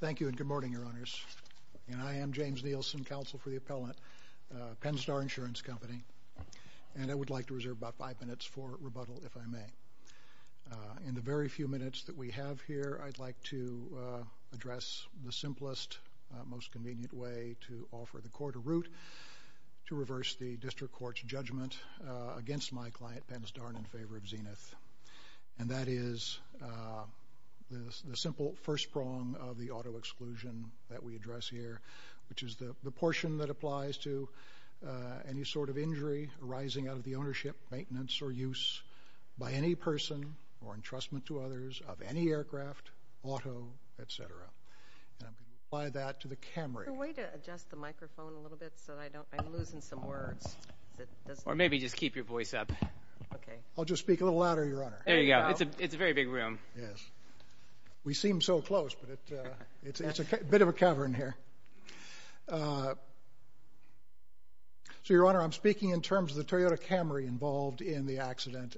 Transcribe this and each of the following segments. Thank you and good morning, Your Honors. I am James Nielsen, Counsel for the Appellant, Penn-Star Insurance Company, and I would like to reserve about five minutes for rebuttal, if I may. In the very few minutes that we have here, I'd like to address the simplest, most convenient way to offer the court a route to reverse the District Court's judgment against my client, Penn-Star, and in favor of Zenith. And that is the simple first prong of the auto-exclusion that we address here, which is the portion that applies to any sort of injury arising out of the ownership, maintenance, or use by any person or entrustment to others of any aircraft, auto, etc. And I'm going to apply that to the Camry. Is there a way to adjust the microphone a little bit so that I don't, I'm losing some words? Or maybe just keep your voice up. Okay. I'll just speak a little louder, Your Honor. There you go. It's a very big room. Yes. We seem so close, but it's a bit of a cavern here. So, Your Honor, I'm speaking in terms of the Toyota Camry involved in the accident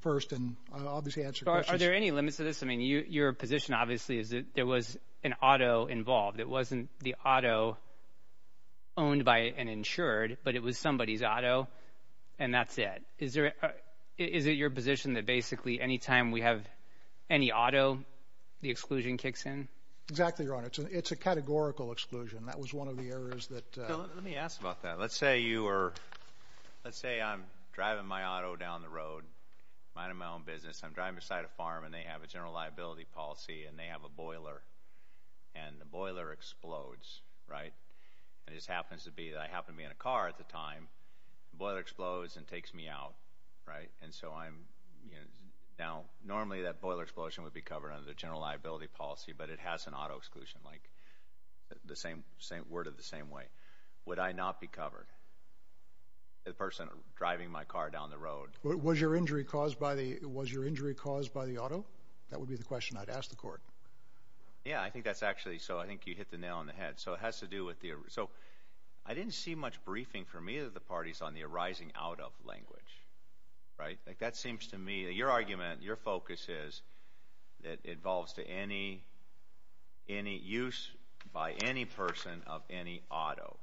first, and I'll obviously answer questions. Are there any limits to this? I mean, your position, obviously, is that there was an auto involved. It wasn't the auto owned by an insured, but it was somebody's auto, and that's it. Is it your position that basically any time we have any auto, the exclusion kicks in? Exactly, Your Honor. It's a categorical exclusion. That was one of the errors that... Let me ask about that. Let's say you were, let's say I'm driving my auto down the road, minding my own business. I'm driving beside a farm, and they have a general liability policy, and they have a boiler, and the boiler explodes, right? And it just happens to be that I happen to be in a car at the time. The boiler explodes and takes me out, right? And so I'm... Now, normally, that boiler explosion would be covered under the general liability policy, but it has an auto exclusion, like the same, worded the same way. Would I not be covered? The person driving my car down the road. Was your injury caused by the auto? That would be the question I'd ask the court. Yeah, I think that's actually... So I think you hit the nail on the head. So it has to do with the... So I didn't see much briefing from either of the parties on the arising out of language, right? That seems to me... Your argument, your focus is that it evolves to any use by any person of any auto.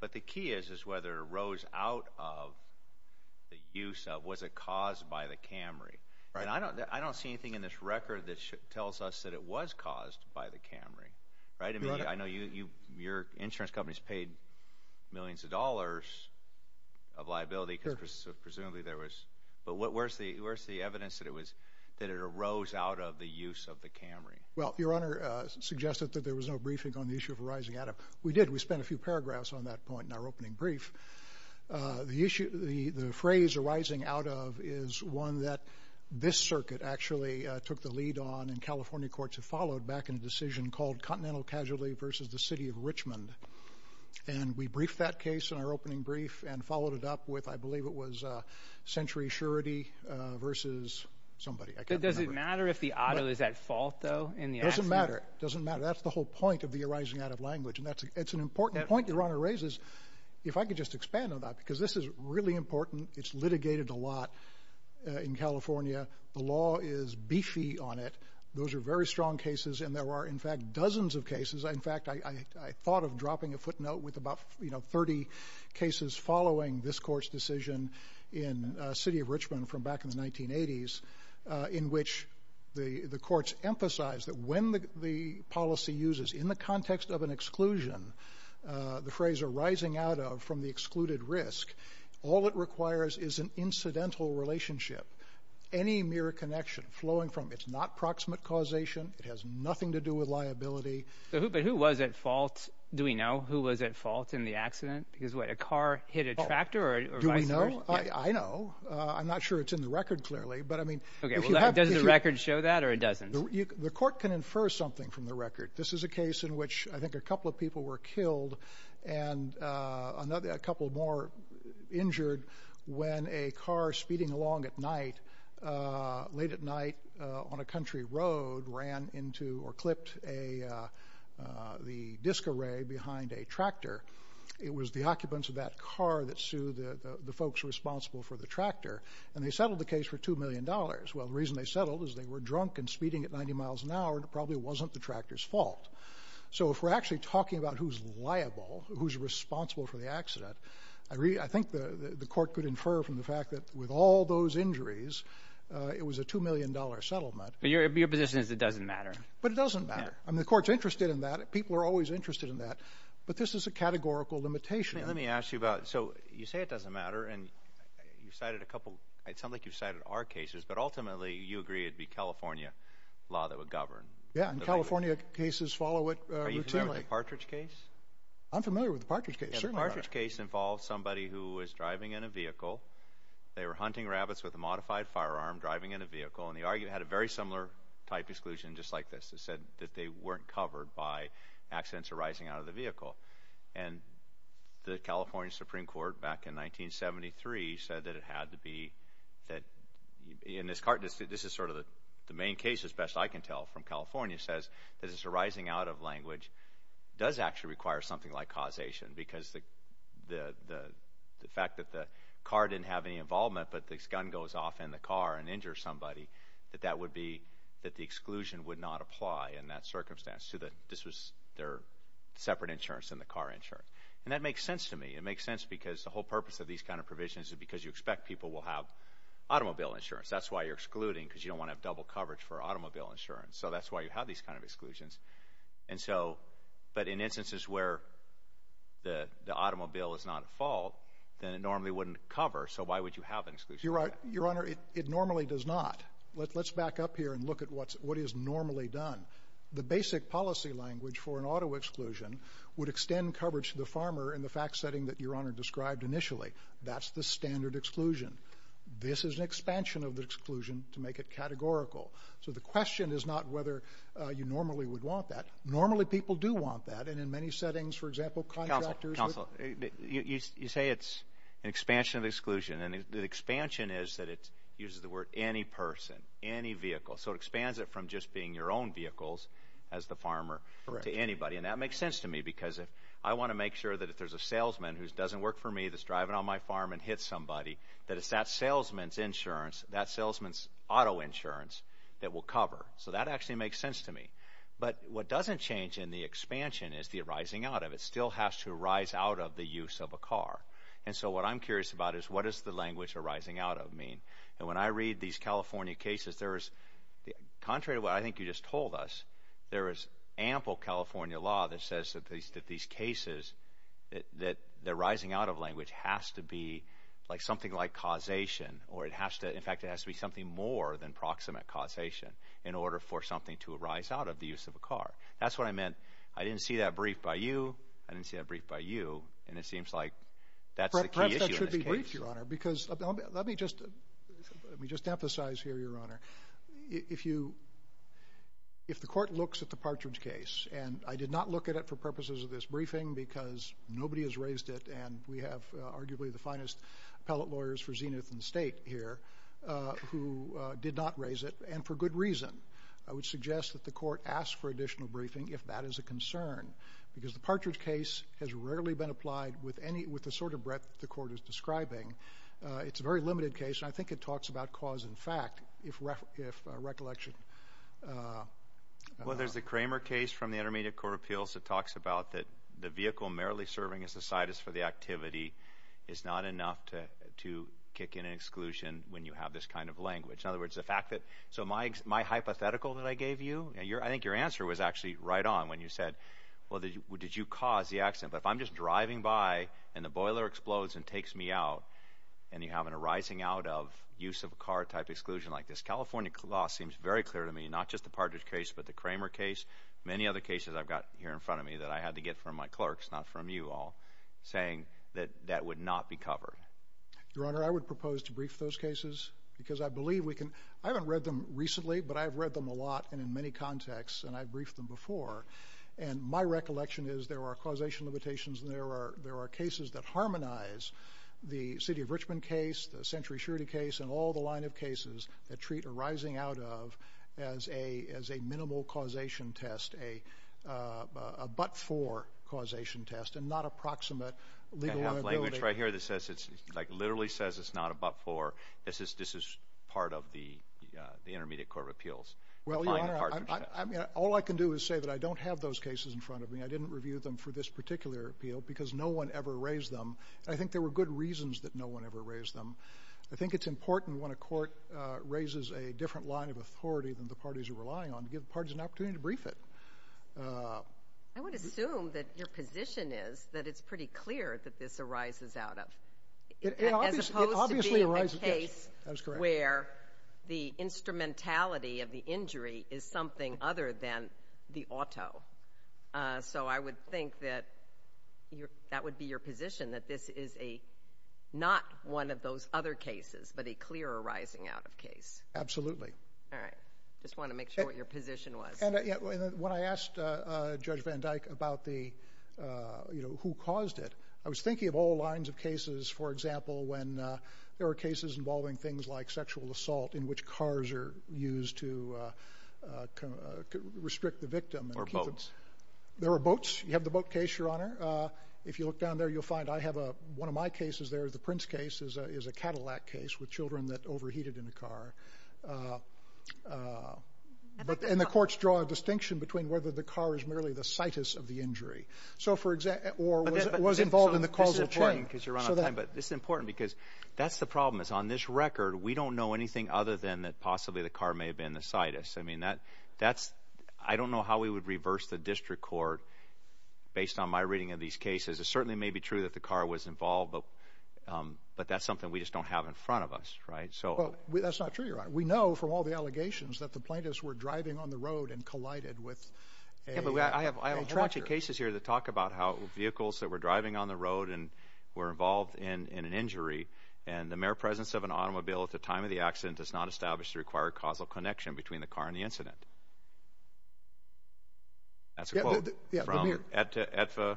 But the key is whether it arose out of the use of... Was it caused by the Camry? And I don't see anything in this record that tells us that it was caused by the Camry, right? I know your insurance companies paid millions of dollars of liability because presumably there was... But where's the evidence that it arose out of the use of the Camry? Well, Your Honor suggested that there was no briefing on the issue of arising out of. We did. We spent a few paragraphs on that point in our opening brief. The phrase arising out of is one that this circuit actually took the lead on and California courts have followed back in a decision called Continental Casualty versus the City of Richmond. And we briefed that case in our opening brief and followed it up with, I believe it was Century Surety versus somebody. Does it matter if the auto is at fault though? It doesn't matter. It doesn't matter. That's the whole point of the arising out of language. And that's an important point Your Honor raises. If I could just expand on that because this is really important. It's litigated a lot in California. The law is beefy on it. Those are very strong cases and there are in fact dozens of cases. In fact, I thought of dropping a footnote with about 30 cases following this court's decision in City of Richmond from back in the 1980s in which the courts emphasized that when the policy uses in the context of an exclusion, the phrase arising out of from the excluded risk, all it requires is an incidental relationship. Any mere connection flowing from it's not proximate causation. It has nothing to do with liability. But who was at fault? Do we know who was at fault in the accident? Because what, a car hit a tractor or vice versa? Do we know? I know. I'm not sure it's in the record clearly. Does the record show that or it doesn't? The court can infer something from the record. This is a case in which I think a couple of people were killed and a couple more injured when a car speeding along at night, late at night on a country road ran into or clipped the disc array behind a tractor. It was the occupants of that car that sued the folks responsible for the tractor. And they settled the case for $2 million. Well, the reason they settled is they were drunk and speeding at 90 miles an hour and it probably wasn't the tractor's fault. So if we're actually talking about who's liable, who's responsible for the accident, I think the court could infer from the fact that with all those injuries, it was a $2 million settlement. But your position is it doesn't matter? But it doesn't matter. The court's interested in that. People are always interested in that. But this is a categorical limitation. Let me ask you about, so you say it doesn't matter. And you cited a couple, it sounds like you've cited our cases. But ultimately, you agree it would be California law that would govern. Yeah, and California cases follow it routinely. Are you familiar with the Partridge case? I'm familiar with the Partridge case, certainly. The Partridge case involved somebody who was driving in a vehicle. They were hunting rabbits with a modified firearm, driving in a vehicle. And the argument had a very similar type exclusion, just like this. It said that they weren't covered by accidents arising out of the vehicle. And the California Supreme Court, back in 1973, said that it had to be that – and this is sort of the main case, as best I can tell, from California – says that this arising out of language does actually require something like causation because the fact that the car didn't have any involvement but this gun goes off in the car and injures somebody, that that would be – that the exclusion would not apply in that circumstance to the – this was their separate insurance than the car insurance. And that makes sense to me. It makes sense because the whole purpose of these kind of provisions is because you expect people will have automobile insurance. That's why you're excluding, because you don't want to have double coverage for automobile insurance. So that's why you have these kind of exclusions. And so – but in instances where the automobile is not at fault, then it normally wouldn't cover. So why would you have an exclusion? You're right. Your Honor, it normally does not. Let's back up here and look at what is normally done. The basic policy language for an auto exclusion would extend coverage to the farmer in the fact setting that Your Honor described initially. That's the standard exclusion. This is an expansion of the exclusion to make it categorical. So the question is not whether you normally would want that. Normally people do want that. And in many settings, for example, contractors would – Counsel, counsel, you say it's an expansion of exclusion. And the expansion is that it uses the word any person, any vehicle. So it expands it from just being your own vehicles as the farmer to anybody. Correct. And that makes sense to me because I want to make sure that if there's a salesman who doesn't work for me that's driving on my farm and hits somebody, that it's that salesman's insurance, that salesman's auto insurance, that will cover. So that actually makes sense to me. But what doesn't change in the expansion is the arising out of it. It still has to arise out of the use of a car. And so what I'm curious about is what does the language arising out of mean? And when I read these California cases, there is – contrary to what I think you just told us, there is ample California law that says that these cases, that the arising out of language has to be like something like causation. In fact, it has to be something more than proximate causation in order for something to arise out of the use of a car. That's what I meant. I didn't see that brief by you. I didn't see that brief by you. And it seems like that's the key issue in this case. Perhaps that should be briefed, Your Honor, because let me just emphasize here, Your Honor, if the court looks at the Partridge case, and I did not look at it for purposes of this briefing because nobody has raised it and we have arguably the finest appellate lawyers for Zenith and State here who did not raise it, and for good reason. I would suggest that the court ask for additional briefing if that is a concern because the Partridge case has rarely been applied with the sort of breadth the court is describing. It's a very limited case, and I think it talks about cause and fact if recollection – Well, there's the Kramer case from the Intermediate Court of Appeals that talks about the vehicle merrily serving as a side for the activity is not enough to kick in an exclusion when you have this kind of language. In other words, the fact that – So my hypothetical that I gave you, I think your answer was actually right on when you said, well, did you cause the accident? But if I'm just driving by and the boiler explodes and takes me out and you have a rising out of use of a car type exclusion like this, California law seems very clear to me, not just the Partridge case but the Kramer case, many other cases I've got here in front of me that I had to get from my clerks, not from you all. Saying that that would not be covered. Your Honor, I would propose to brief those cases because I believe we can – I haven't read them recently, but I have read them a lot and in many contexts, and I've briefed them before. And my recollection is there are causation limitations and there are cases that harmonize the City of Richmond case, the Century Surety case, and all the line of cases that treat a rising out of as a minimal causation test, a but-for causation test, and not approximate legal liability. I have language right here that literally says it's not a but-for. This is part of the Intermediate Court of Appeals. Well, Your Honor, all I can do is say that I don't have those cases in front of me. I didn't review them for this particular appeal because no one ever raised them. I think there were good reasons that no one ever raised them. I think it's important when a court raises a different line of authority than the parties are relying on to give the parties an opportunity to brief it. I would assume that your position is that it's pretty clear that this arises out of, as opposed to being a case where the instrumentality of the injury is something other than the auto. So I would think that that would be your position, that this is not one of those other cases, but a clear arising out of case. Absolutely. All right. Just wanted to make sure what your position was. When I asked Judge Van Dyke about who caused it, I was thinking of all lines of cases, for example, when there were cases involving things like sexual assault in which cars are used to restrict the victim. Or boats. There were boats. You have the boat case, Your Honor. If you look down there, you'll find I have one of my cases there. The Prince case is a Cadillac case with children that overheated in a car. And the courts draw a distinction between whether the car is merely the situs of the injury, or was involved in the causal chain. This is important because that's the problem. On this record, we don't know anything other than that possibly the car may have been the situs. I don't know how we would reverse the district court based on my reading of these cases. It certainly may be true that the car was involved, but that's something we just don't have in front of us. That's not true, Your Honor. We know from all the allegations that the plaintiffs were driving on the road and collided with a tractor. I have a whole bunch of cases here that talk about how vehicles that were driving on the road were involved in an injury, and the mere presence of an automobile at the time of the accident does not establish the required causal connection between the car and the incident. That's a quote from the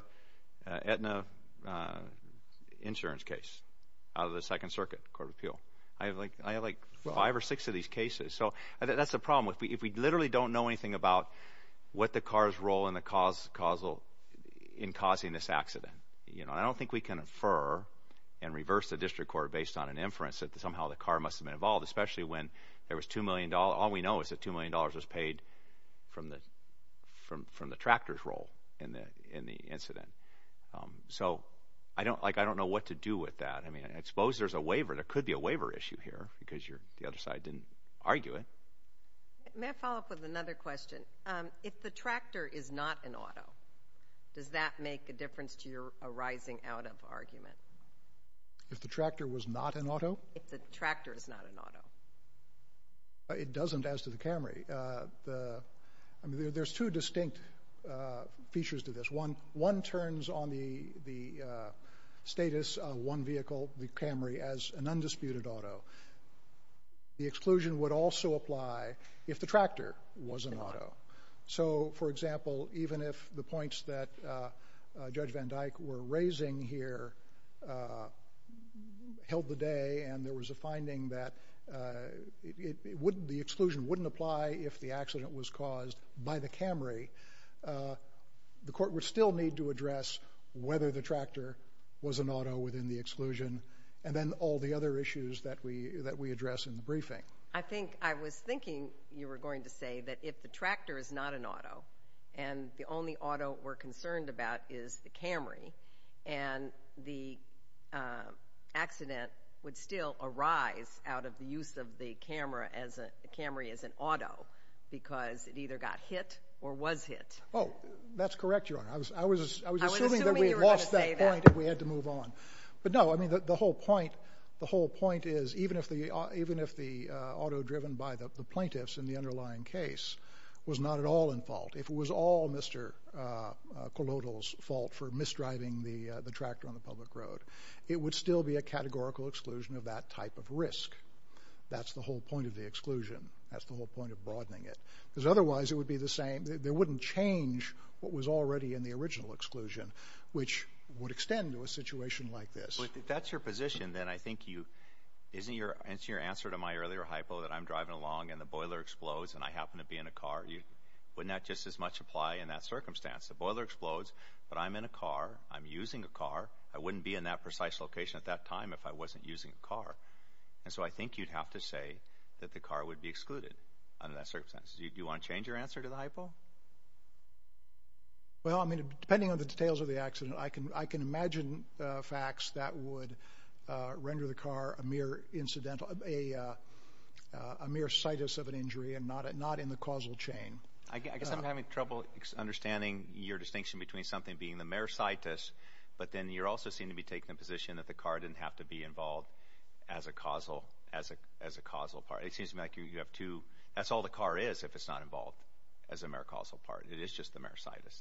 Aetna insurance case out of the Second Circuit Court of Appeal. I have like five or six of these cases. That's the problem. If we literally don't know anything about what the car's role in causing this accident, I don't think we can infer and reverse the district court based on an inference that somehow the car must have been involved, especially when all we know is that $2 million was paid from the tractor's role in the incident. I don't know what to do with that. I suppose there's a waiver. There could be a waiver issue here because the other side didn't argue it. May I follow up with another question? If the tractor is not an auto, does that make a difference to your arising out of argument? If the tractor was not an auto? If the tractor is not an auto. It doesn't as to the Camry. There's two distinct features to this. One turns on the status of one vehicle, the Camry, as an undisputed auto. The exclusion would also apply if the tractor was an auto. For example, even if the points that Judge Van Dyke were raising here held the day and there was a finding that the exclusion wouldn't apply if the accident was caused by the Camry, the court would still need to address whether the tractor was an auto within the exclusion and then all the other issues that we address in the briefing. I think I was thinking you were going to say that if the tractor is not an auto and the only auto we're concerned about is the Camry and the accident would still arise out of the use of the Camry as an auto because it either got hit or was hit. That's correct, Your Honor. I was assuming that we had lost that point and we had to move on. But no, the whole point is even if the auto driven by the plaintiffs in the underlying case was not at all in fault, if it was all Mr. Kolodil's fault for misdriving the tractor on the public road, it would still be a categorical exclusion of that type of risk. That's the whole point of the exclusion. That's the whole point of broadening it. Because otherwise it would be the same. There wouldn't change what was already in the original exclusion, which would extend to a situation like this. If that's your position, then I think you, isn't your answer to my earlier hypo that I'm driving along and the boiler explodes and I happen to be in a car? Wouldn't that just as much apply in that circumstance? The boiler explodes, but I'm in a car. I'm using a car. I wouldn't be in that precise location at that time if I wasn't using a car. And so I think you'd have to say that the car would be excluded under that circumstance. Do you want to change your answer to the hypo? Well, I mean, depending on the details of the accident, I can imagine facts that would render the car a mere incidental, a mere situs of an injury and not in the causal chain. I guess I'm having trouble understanding your distinction between something being the mere situs, but then you also seem to be taking the position that the car didn't have to be involved as a causal part. It seems to me like you have two... That's all the car is if it's not involved as a mere causal part. It is just the mere situs.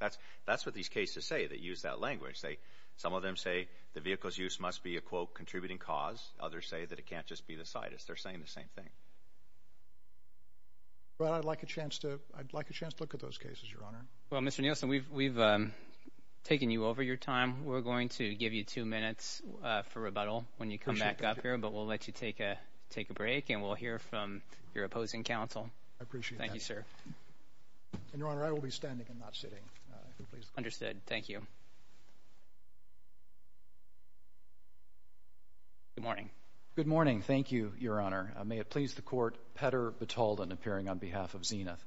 That's what these cases say. They use that language. Some of them say the vehicle's use must be a, quote, contributing cause. Others say that it can't just be the situs. They're saying the same thing. Well, I'd like a chance to look at those cases, Your Honor. Well, Mr. Nielsen, we've taken you over your time. We're going to give you two minutes for rebuttal when you come back up here, but we'll let you take a break and we'll hear from your opposing counsel. I appreciate that. Thank you, sir. And, Your Honor, I will be standing and not sitting. If you'll please. Understood. Thank you. Good morning. Good morning. Thank you, Your Honor. May it please the Court, Petter Batalden appearing on behalf of Zenith.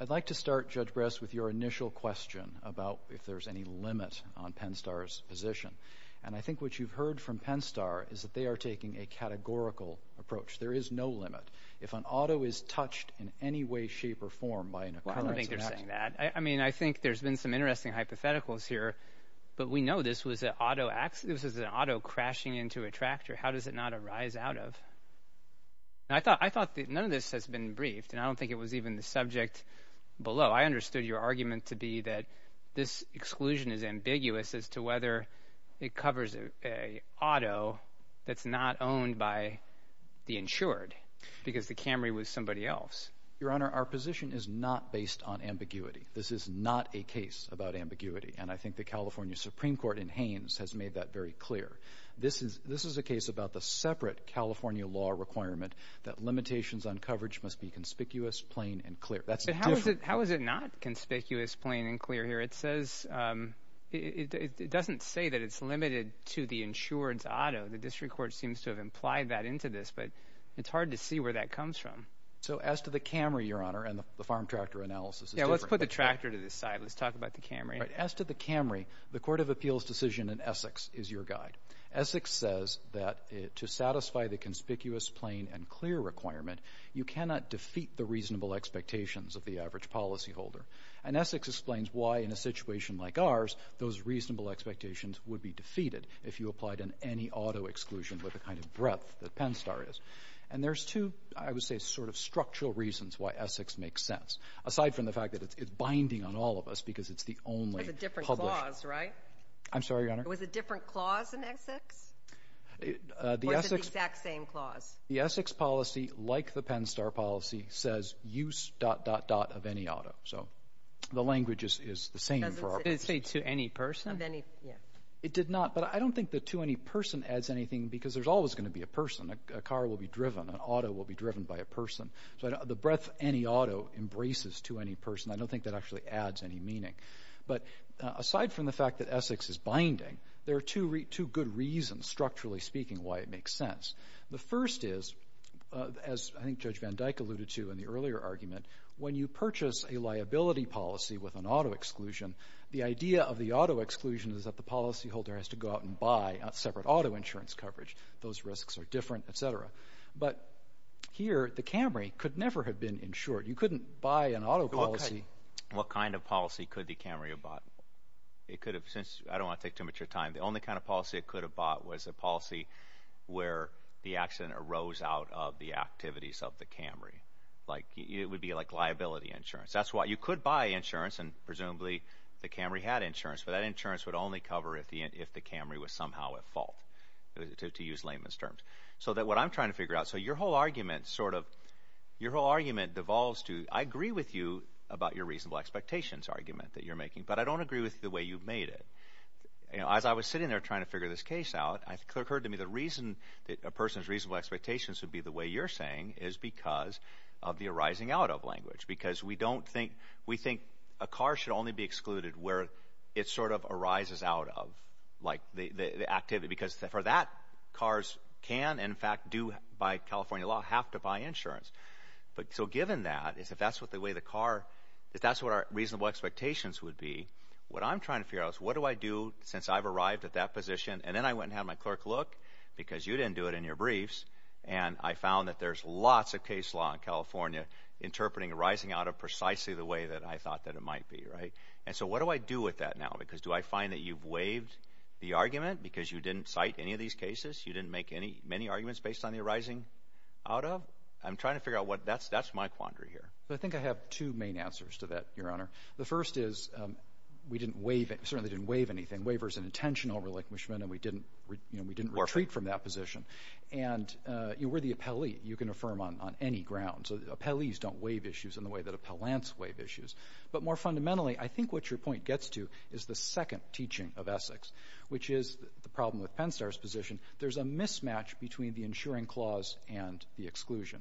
I'd like to start, Judge Bress, with your initial question about if there's any limit on PennStar's position. And I think what you've heard from PennStar is that they are taking a categorical approach. There is no limit. If an auto is touched in any way, shape, or form by an occurrence... Well, I don't think they're saying that. I mean, I think there's been some interesting hypotheticals here, but we know this was an auto crashing into a tractor. How does it not arise out of...? I thought none of this has been briefed, and I don't think it was even the subject below. I understood your argument to be that this exclusion is ambiguous as to whether it covers an auto that's not owned by the insured because the Camry was somebody else. Your Honor, our position is not based on ambiguity. This is not a case about ambiguity, and I think the California Supreme Court in Haines has made that very clear. This is a case about the separate California law requirement that limitations on coverage must be conspicuous, plain, and clear. That's different. How is it not conspicuous, plain, and clear here? It says... It doesn't say that it's limited to the insured's auto. The district court seems to have implied that into this, but it's hard to see where that comes from. So as to the Camry, Your Honor, and the farm tractor analysis is different. Yeah, let's put the tractor to the side. Let's talk about the Camry. As to the Camry, the Court of Appeals decision in Essex is your guide. Essex says that to satisfy the conspicuous, plain, and clear requirement, you cannot defeat the reasonable expectations of the average policyholder. And Essex explains why, in a situation like ours, those reasonable expectations would be defeated if you applied an any-auto exclusion with the kind of breadth that PennStar is. And there's two, I would say, sort of structural reasons why Essex makes sense, aside from the fact that it's binding on all of us because it's the only published... It's a different clause, right? I'm sorry, Your Honor? Was it a different clause in Essex? Or is it the exact same clause? The Essex policy, like the PennStar policy, says use dot, dot, dot of any auto. So the language is the same. Did it say to any person? It did not. But I don't think that to any person adds anything because there's always going to be a person. A car will be driven. An auto will be driven by a person. So the breadth any auto embraces to any person, I don't think that actually adds any meaning. But aside from the fact that Essex is binding, there are two good reasons, structurally speaking, why it makes sense. The first is, as I think Judge Van Dyke alluded to in the earlier argument, when you purchase a liability policy with an auto exclusion, the idea of the auto exclusion is that the policyholder has to go out and buy separate auto insurance coverage. Those risks are different, et cetera. But here, the Camry could never have been insured. You couldn't buy an auto policy... What kind of policy could the Camry have bought? It could have... I don't want to take too much of your time. The only kind of policy it could have bought was a policy where the accident arose out of the activities of the Camry. It would be like liability insurance. That's why you could buy insurance, and presumably the Camry had insurance, but that insurance would only cover if the Camry was somehow at fault, to use layman's terms. So what I'm trying to figure out... Your whole argument devolves to... I agree with you about your reasonable expectations argument that you're making, but I don't agree with the way you've made it. As I was sitting there trying to figure this case out, it occurred to me that a person's reasonable expectations would be the way you're saying is because of the arising out of language. Because we don't think... We think a car should only be excluded where it sort of arises out of, like, the activity. Because for that, cars can, in fact, do, by California law, have to buy insurance. So given that, if that's what the way the car... If that's what our reasonable expectations would be, what I'm trying to figure out is, what do I do since I've arrived at that position? And then I went and had my clerk look, because you didn't do it in your briefs, and I found that there's lots of case law in California interpreting arising out of precisely the way that I thought that it might be, right? And so what do I do with that now? Because do I find that you've waived the argument because you didn't cite any of these cases? You didn't make any... many arguments based on the arising out of? I'm trying to figure out what... That's my quandary here. I think I have two main answers to that, Your Honor. The first is, we didn't waive... We certainly didn't waive anything. Waiver's an intentional relinquishment, and we didn't retreat from that position. And we're the appellee. You can affirm on any ground. So appellees don't waive issues in the way that appellants waive issues. But more fundamentally, I think what your point gets to is the second teaching of Essex, which is the problem with Penstar's position. There's a mismatch between the insuring clause and the exclusion.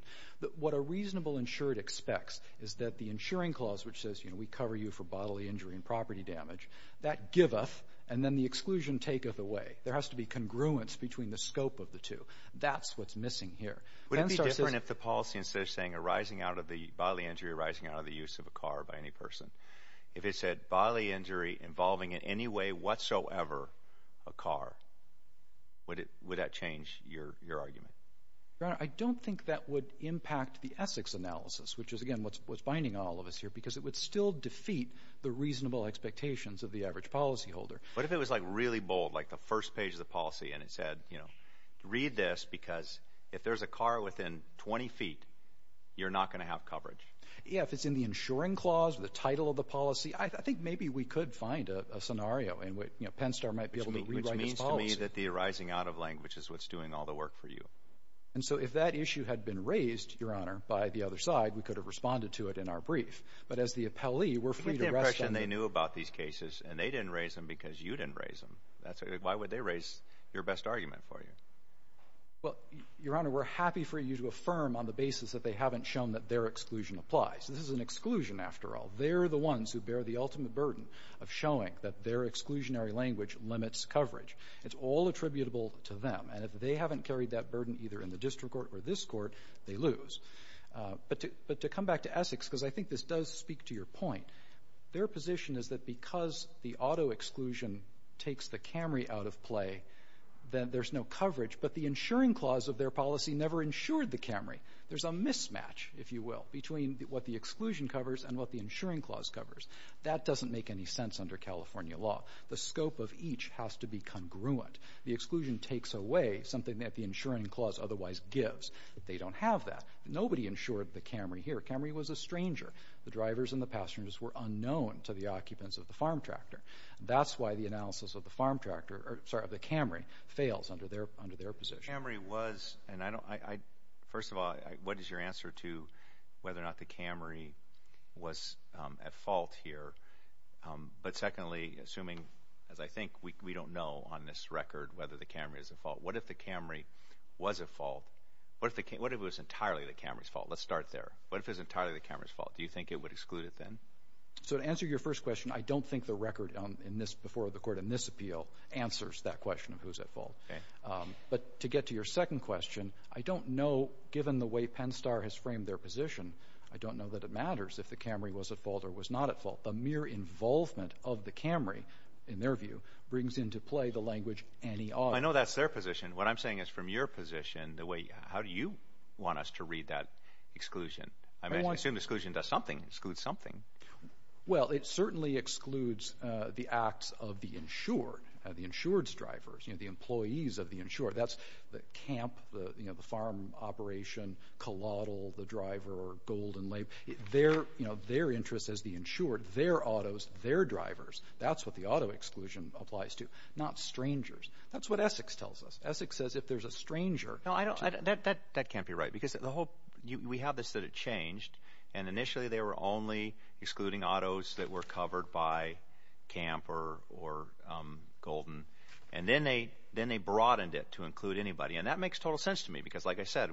What a reasonable insured expects is that the insuring clause, which says, you know, we cover you for bodily injury and property damage, that giveth, and then the exclusion taketh away. There has to be congruence between the scope of the two. That's what's missing here. Would it be different if the policy instead of saying arising out of the bodily injury, arising out of the use of a car by any person, if it said bodily injury involving in any way whatsoever a car? Would that change your argument? Your Honor, I don't think that would impact the Essex analysis, which is, again, what's binding all of us here, because it would still defeat the reasonable expectations of the average policyholder. What if it was, like, really bold, like the first page of the policy, and it said, you know, read this, because if there's a car within 20 feet, you're not going to have coverage? Yeah, if it's in the insuring clause or the title of the policy, I think maybe we could find a scenario in which, you know, Penstar might be able to rewrite this policy. Which means to me that the arising out of language is what's doing all the work for you. And so if that issue had been raised, Your Honor, by the other side, we could have responded to it in our brief. But as the appellee, we're free to rest... Give me the impression they knew about these cases, and they didn't raise them because you didn't raise them. Why would they raise your best argument for you? Well, Your Honor, we're happy for you to affirm on the basis that they haven't shown that their exclusion applies. This is an exclusion, after all. They're the ones who bear the ultimate burden of showing that their exclusionary language limits coverage. It's all attributable to them. And if they haven't carried that burden either in the district court or this court, they lose. But to come back to Essex, because I think this does speak to your point, their position is that because the auto-exclusion takes the Camry out of play, that there's no coverage. But the insuring clause of their policy never insured the Camry. There's a mismatch, if you will, between what the exclusion covers and what the insuring clause covers. That doesn't make any sense under California law. The scope of each has to be congruent. The exclusion takes away something that the insuring clause otherwise gives. They don't have that. Nobody insured the Camry here. Camry was a stranger. The drivers and the passengers were unknown to the occupants of the Camry. That's why the analysis of the Camry fails under their position. First of all, what is your answer to whether or not the Camry was at fault here? But secondly, assuming, as I think we don't know on this record, whether the Camry is at fault, what if the Camry was at fault? What if it was entirely the Camry's fault? Let's start there. What if it was entirely the Camry's fault? Do you think it would exclude it then? To answer your first question, I don't think the record before the Court in this appeal answers that question of who's at fault. But to get to your second question, I don't know, given the way PennStar has framed their position, I don't know that it matters if the Camry was at fault or was not at fault. The mere involvement of the Camry, in their view, brings into play the language any ought. I know that's their position. What I'm saying is, from your position, how do you want us to read that exclusion? I mean, I assume exclusion does something, excludes something. Well, it certainly excludes the acts of the insured, the insured's drivers, the employees of the insured. That's the camp, the farm operation, collateral, the driver, or gold and labor. Their interests as the insured, their autos, their drivers, that's what the auto exclusion applies to, not strangers. That's what Essex tells us. Essex says if there's a stranger... No, that can't be right, because we have this that it changed, and initially they were only excluding autos that were covered by camp or golden, and then they broadened it to include anybody. And that makes total sense to me, because like I said,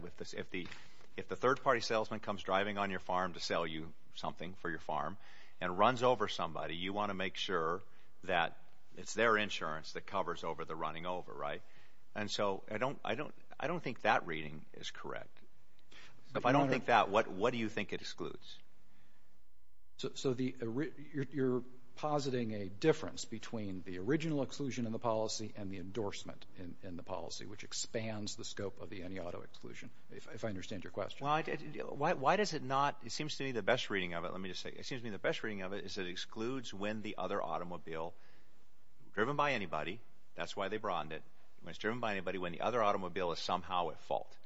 if the third-party salesman comes driving on your farm to sell you something for your farm and runs over somebody, you want to make sure that it's their insurance that covers over the running over, right? And so I don't think that reading is correct. If I don't think that, what do you think it excludes? So you're positing a difference between the original exclusion in the policy and the endorsement in the policy, which expands the scope of the any-auto exclusion, if I understand your question. Why does it not... It seems to me the best reading of it, is it excludes when the other automobile, driven by anybody, that's why they broadened it, when it's driven by anybody, when the other automobile is somehow at fault.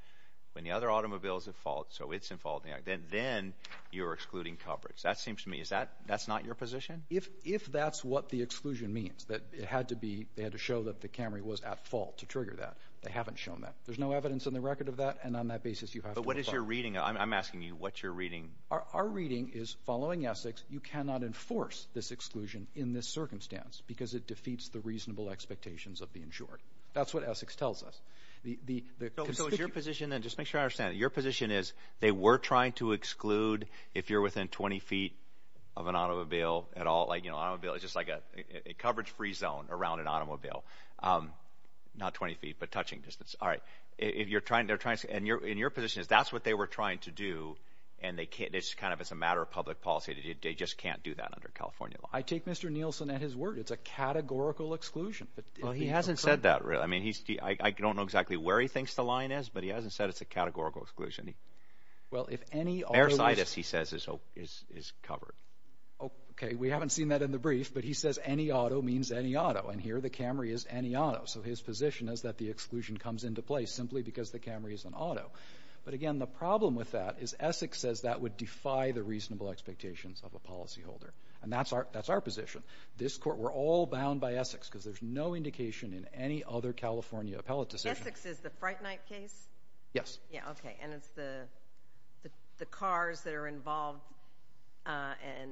When the other automobile is at fault, so it's in fault, then you're excluding coverage. That seems to me... That's not your position? If that's what the exclusion means, that it had to be, they had to show that the Camry was at fault to trigger that. They haven't shown that. There's no evidence in the record of that, and on that basis you have to... But what is your reading? I'm asking you, what's your reading? Our reading is, following Essex, you cannot enforce this exclusion in this circumstance, because it defeats the reasonable expectations of the insured. That's what Essex tells us. So is your position, and just make sure I understand, your position is, they were trying to exclude if you're within 20 feet of an automobile at all, an automobile is just like a coverage-free zone around an automobile. Not 20 feet, but touching distance. Alright. And your position is, that's what they were trying to do, and it's kind of a matter of public policy. They just can't do that under California law. I take Mr. Nielsen at his word. It's a categorical exclusion. Well, he hasn't said that, really. I don't know exactly where he thinks the line is, but he hasn't said it's a categorical exclusion. Well, if any... Mercedes, he says, is covered. Okay, we haven't seen that in the brief, but he says any auto means any auto, and here the Camry is any auto. So his position is that the exclusion comes into place, simply because the Camry is an auto. But again, the problem with that is Essex says that would defy the reasonable expectations of a policyholder. And that's our position. We're all bound by Essex, because there's no indication in any other California appellate decision... Essex is the Fright Night case? Yes. Yeah, okay, and it's the cars that are the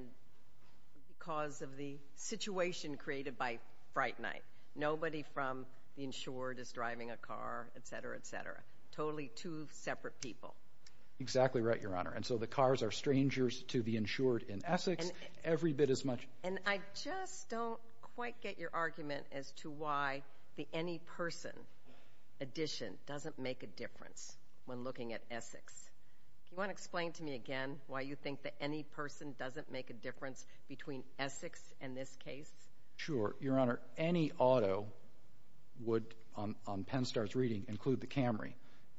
cause of the situation created by Fright Night. Nobody from the insured is driving a car, etc., etc. Totally two separate people. Exactly right, Your Honor, and so the cars are strangers to the insured in Essex, every bit as much... And I just don't quite get your argument as to why the any person addition doesn't make a difference when looking at Essex. Do you want to explain to me again why you think the any person doesn't make a difference between Essex and this case? Sure, Your Honor. Any auto would, on PennStar's reading, include the Camry.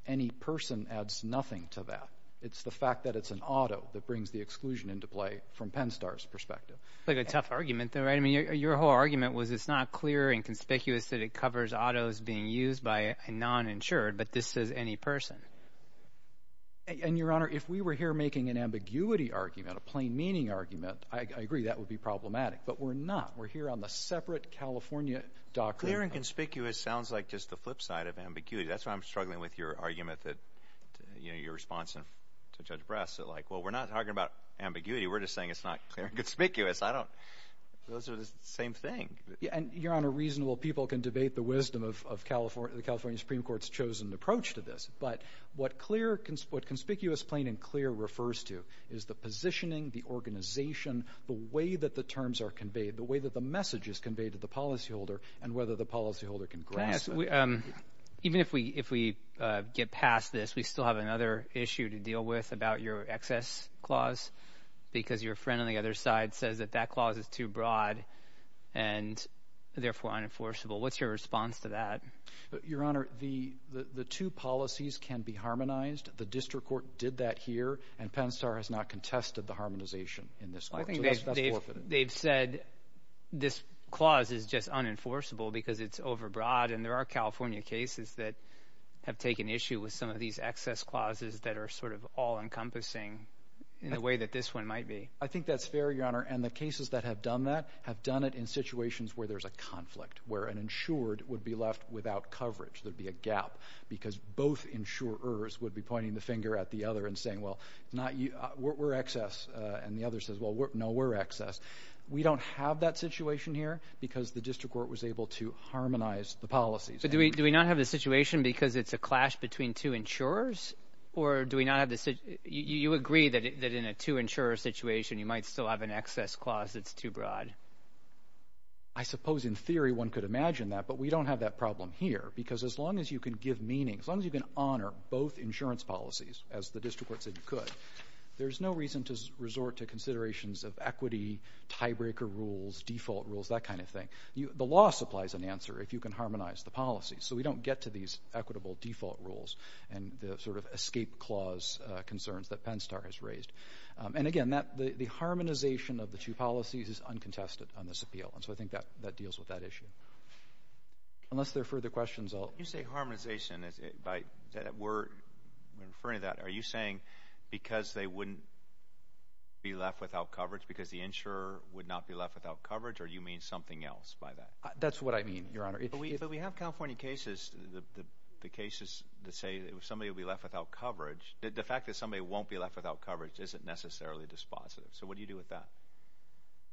Any person adds nothing to that. It's the fact that it's an auto that brings the exclusion into play from PennStar's perspective. It's like a tough argument, though, right? I mean, your whole argument was it's not clear and conspicuous that it covers autos being used by a non-insured, but this says any person. And, Your Honor, if we were here making an ambiguity argument, a plain meaning argument, I agree that would be problematic, but we're not. We're here on the separate California document. Clear and conspicuous sounds like just the flip side of ambiguity. That's why I'm struggling with your argument that, you know, your response to Judge Brass that like, well, we're not talking about ambiguity. We're just saying it's not clear and conspicuous. I don't... Those are the same thing. And, Your Honor, reasonable people can debate the wisdom of the California Supreme Court's chosen approach to this, but what clear... what conspicuous, plain, and clear refers to is the positioning, the organization, the way that the terms are conveyed, the way that the message is conveyed to the policyholder, and whether the policyholder can grasp it. Even if we get past this, we still have another issue to deal with about your excess clause because your friend on the other side says that that clause is too broad and therefore unenforceable. What's your response to that? Your Honor, the two policies can be harmonized. The district court did that here, and PennStar has not contested the harmonization in this court. They've said this clause is just unenforceable because it's overbroad, and there are California cases that have taken issue with some of these excess clauses that are sort of all-encompassing in a way that this one might be. I think that's fair, Your Honor, and the cases that have done that have done it in situations where there's a conflict, where an insured would be left without coverage. There'd be a gap because both insurers would be pointing the finger at the other and saying, well, we're excess, and the other says, well, no, we're excess. We don't have that situation here because the district court was able to harmonize the policies. Do we not have the situation because it's a clash between two insurers, or do we not have the... You agree that in a two-insurer situation, you might still have an excess clause that's too close in theory one could imagine that, but we don't have that problem here because as long as you can give meaning, as long as you can honor both insurance policies, as the district court said you could, there's no reason to resort to considerations of equity, tiebreaker rules, default rules, that kind of thing. The law supplies an answer if you can harmonize the policies, so we don't get to these equitable default rules and the sort of escape clause concerns that PennStar has raised. And again, the harmonization of the two policies is what deals with that issue. Unless there are further questions, I'll... You say harmonization, referring to that, are you saying because they wouldn't be left without coverage because the insurer would not be left without coverage, or you mean something else by that? That's what I mean, Your Honor. But we have California cases, the cases that say if somebody would be left without coverage, the fact that somebody won't be left without coverage isn't necessarily dispositive. So what do you do with that?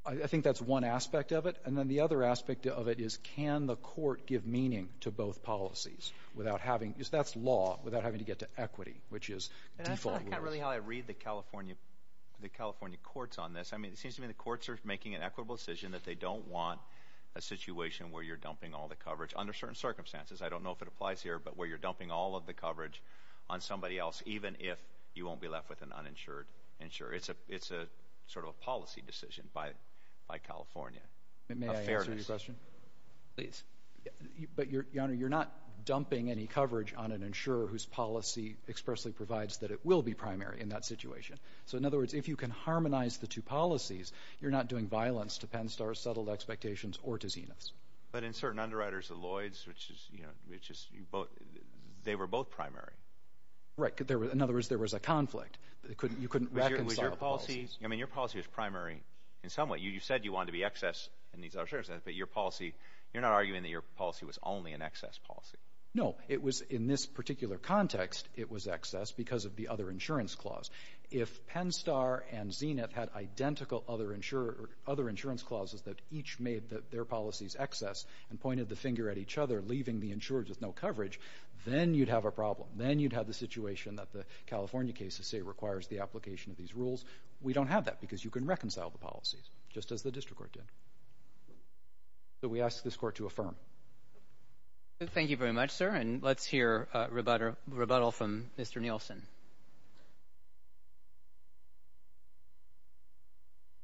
I think that's one aspect of it, and then the other aspect of it is can the court give meaning to both policies without having... That's law without having to get to equity, which is default rules. And that's not really how I read the California courts on this. I mean, it seems to me the courts are making an equitable decision that they don't want a situation where you're dumping all the coverage, under certain circumstances. I don't know if it applies here, but where you're dumping all of the coverage on somebody else, even if you won't be left with an uninsured insurer. It's a sort of policy decision by California. May I answer your question? But Your Honor, you're not dumping any coverage on an insurer whose policy expressly provides that it will be primary in that situation. So in other words, if you can harmonize the two policies, you're not doing violence to Penn Star's settled expectations or to Zenith's. But in certain underwriters, the Lloyds, which is, you know, they were both primary. Right. In other words, there was a conflict. You couldn't reconcile the policies. I mean, your policy was primary in some way. You said you wanted to be excess, but your policy, you're not arguing that your policy was only an excess policy. No. It was, in this particular context, it was excess because of the other insurance clause. If Penn Star and Zenith had identical other insurance clauses that each made their policies excess and pointed the finger at each other, leaving the insurers with no coverage, then you'd have a problem. Then you'd have the situation that the California cases say requires the application of these rules. We don't have that because you can reconcile the policies, just as the district court did. So we ask this court to affirm. Thank you very much, sir. And let's hear a rebuttal from Mr. Nielsen.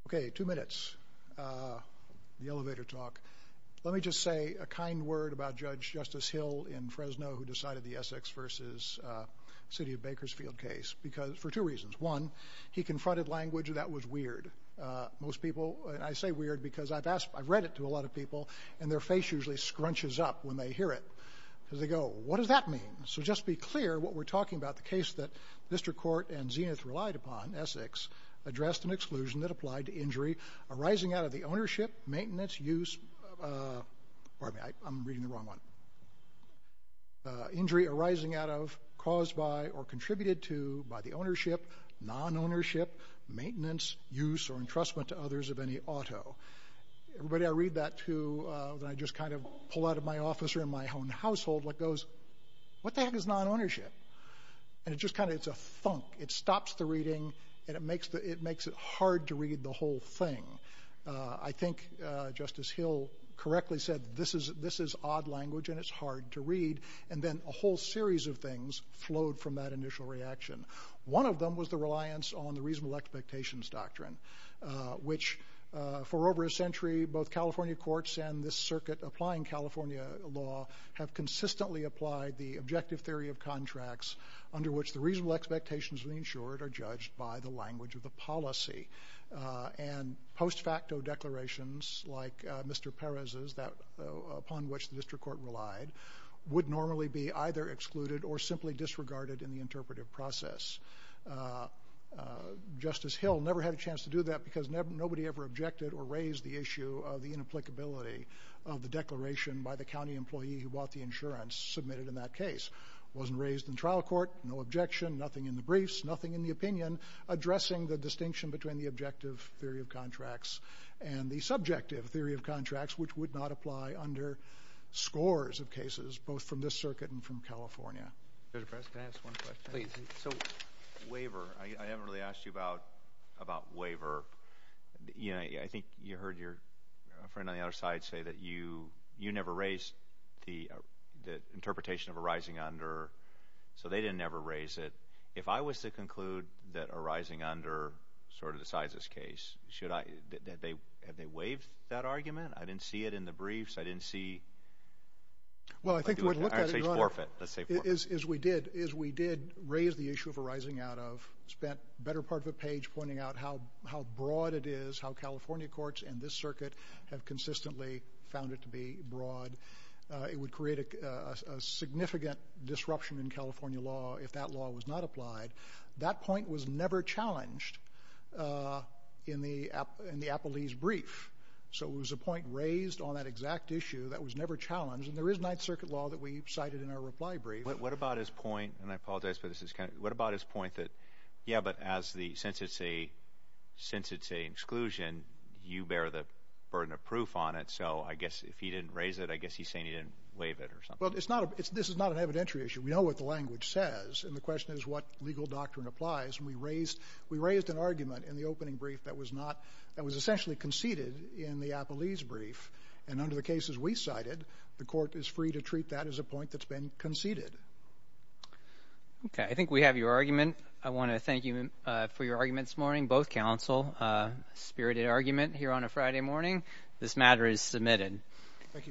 Okay. Two minutes. The elevator talk. Let me just say a kind word about Judge Justice Hill in Fresno who decided the Essex v. City of Bakersfield case for two reasons. One, he confronted language that was weird. Most people, and I say weird because I've read it to a lot of people, and their face usually scrunches up when they hear it. They go, what does that mean? So just be clear what we're talking about. The case that district court and Zenith relied upon, Essex, addressed an exclusion that applied to injury arising out of the ownership, maintenance, use... Pardon me. I'm reading the wrong one. Injury arising out of, caused by, or contributed to by the ownership, non-ownership, maintenance, use, or entrustment to others of any auto. Everybody, I read that too, and I just kind of pull out of my office or in my own household what goes, what the heck is non-ownership? And it just kind of, it's a thunk. It stops the reading, and it makes it hard to read the whole thing. I think Justice Hill correctly said this is an odd language, and it's hard to read. And then a whole series of things flowed from that initial reaction. One of them was the reliance on the reasonable expectations doctrine, which for over a century both California courts and this circuit applying California law have consistently applied the objective theory of contracts under which the reasonable expectations of the insured are judged by the language of the policy. And post facto declarations like Mr. Court relied would normally be either excluded or simply disregarded in the interpretive process. Justice Hill never had a chance to do that because nobody ever objected or raised the issue of the inapplicability of the declaration by the county employee who bought the insurance submitted in that case. Wasn't raised in trial court, no objection, nothing in the briefs, nothing in the opinion addressing the distinction between the objective theory of contracts and the subjective theory of contracts, which would not apply under scores of cases, both from this circuit and from California. Can I ask one question? I haven't really asked you about waiver. I think you heard your friend on the other side say that you never raised the interpretation of arising under, so they didn't ever raise it. If I was to conclude that arising under sort of decides this case, have they waived that argument? I didn't see it in the briefs. I didn't see... I'd say it's forfeit. As we did raise the issue of arising out of, spent better part of a page pointing out how broad it is, how California courts and this circuit have consistently found it to be broad. It would create a significant disruption in California law if that law was not applied. That point was never challenged in the appellee's brief. It was a point raised on that exact issue that was never challenged, and there is Ninth Circuit law that we cited in our reply brief. What about his point, and I apologize, but what about his point that, yeah, but since it's a exclusion, you bear the burden of proof on it, so I guess if he didn't raise it, I guess he's saying he didn't waive it or something. This is not an evidentiary issue. We know what the language says, and the question is what legal grounds do we have to use to make an argument in the opening brief that was essentially conceded in the appellee's brief, and under the cases we cited, the court is free to treat that as a point that's been conceded. Okay, I think we have your argument. I want to thank you for your argument this morning, both counsel. Spirited argument here on a Friday morning. This matter is submitted.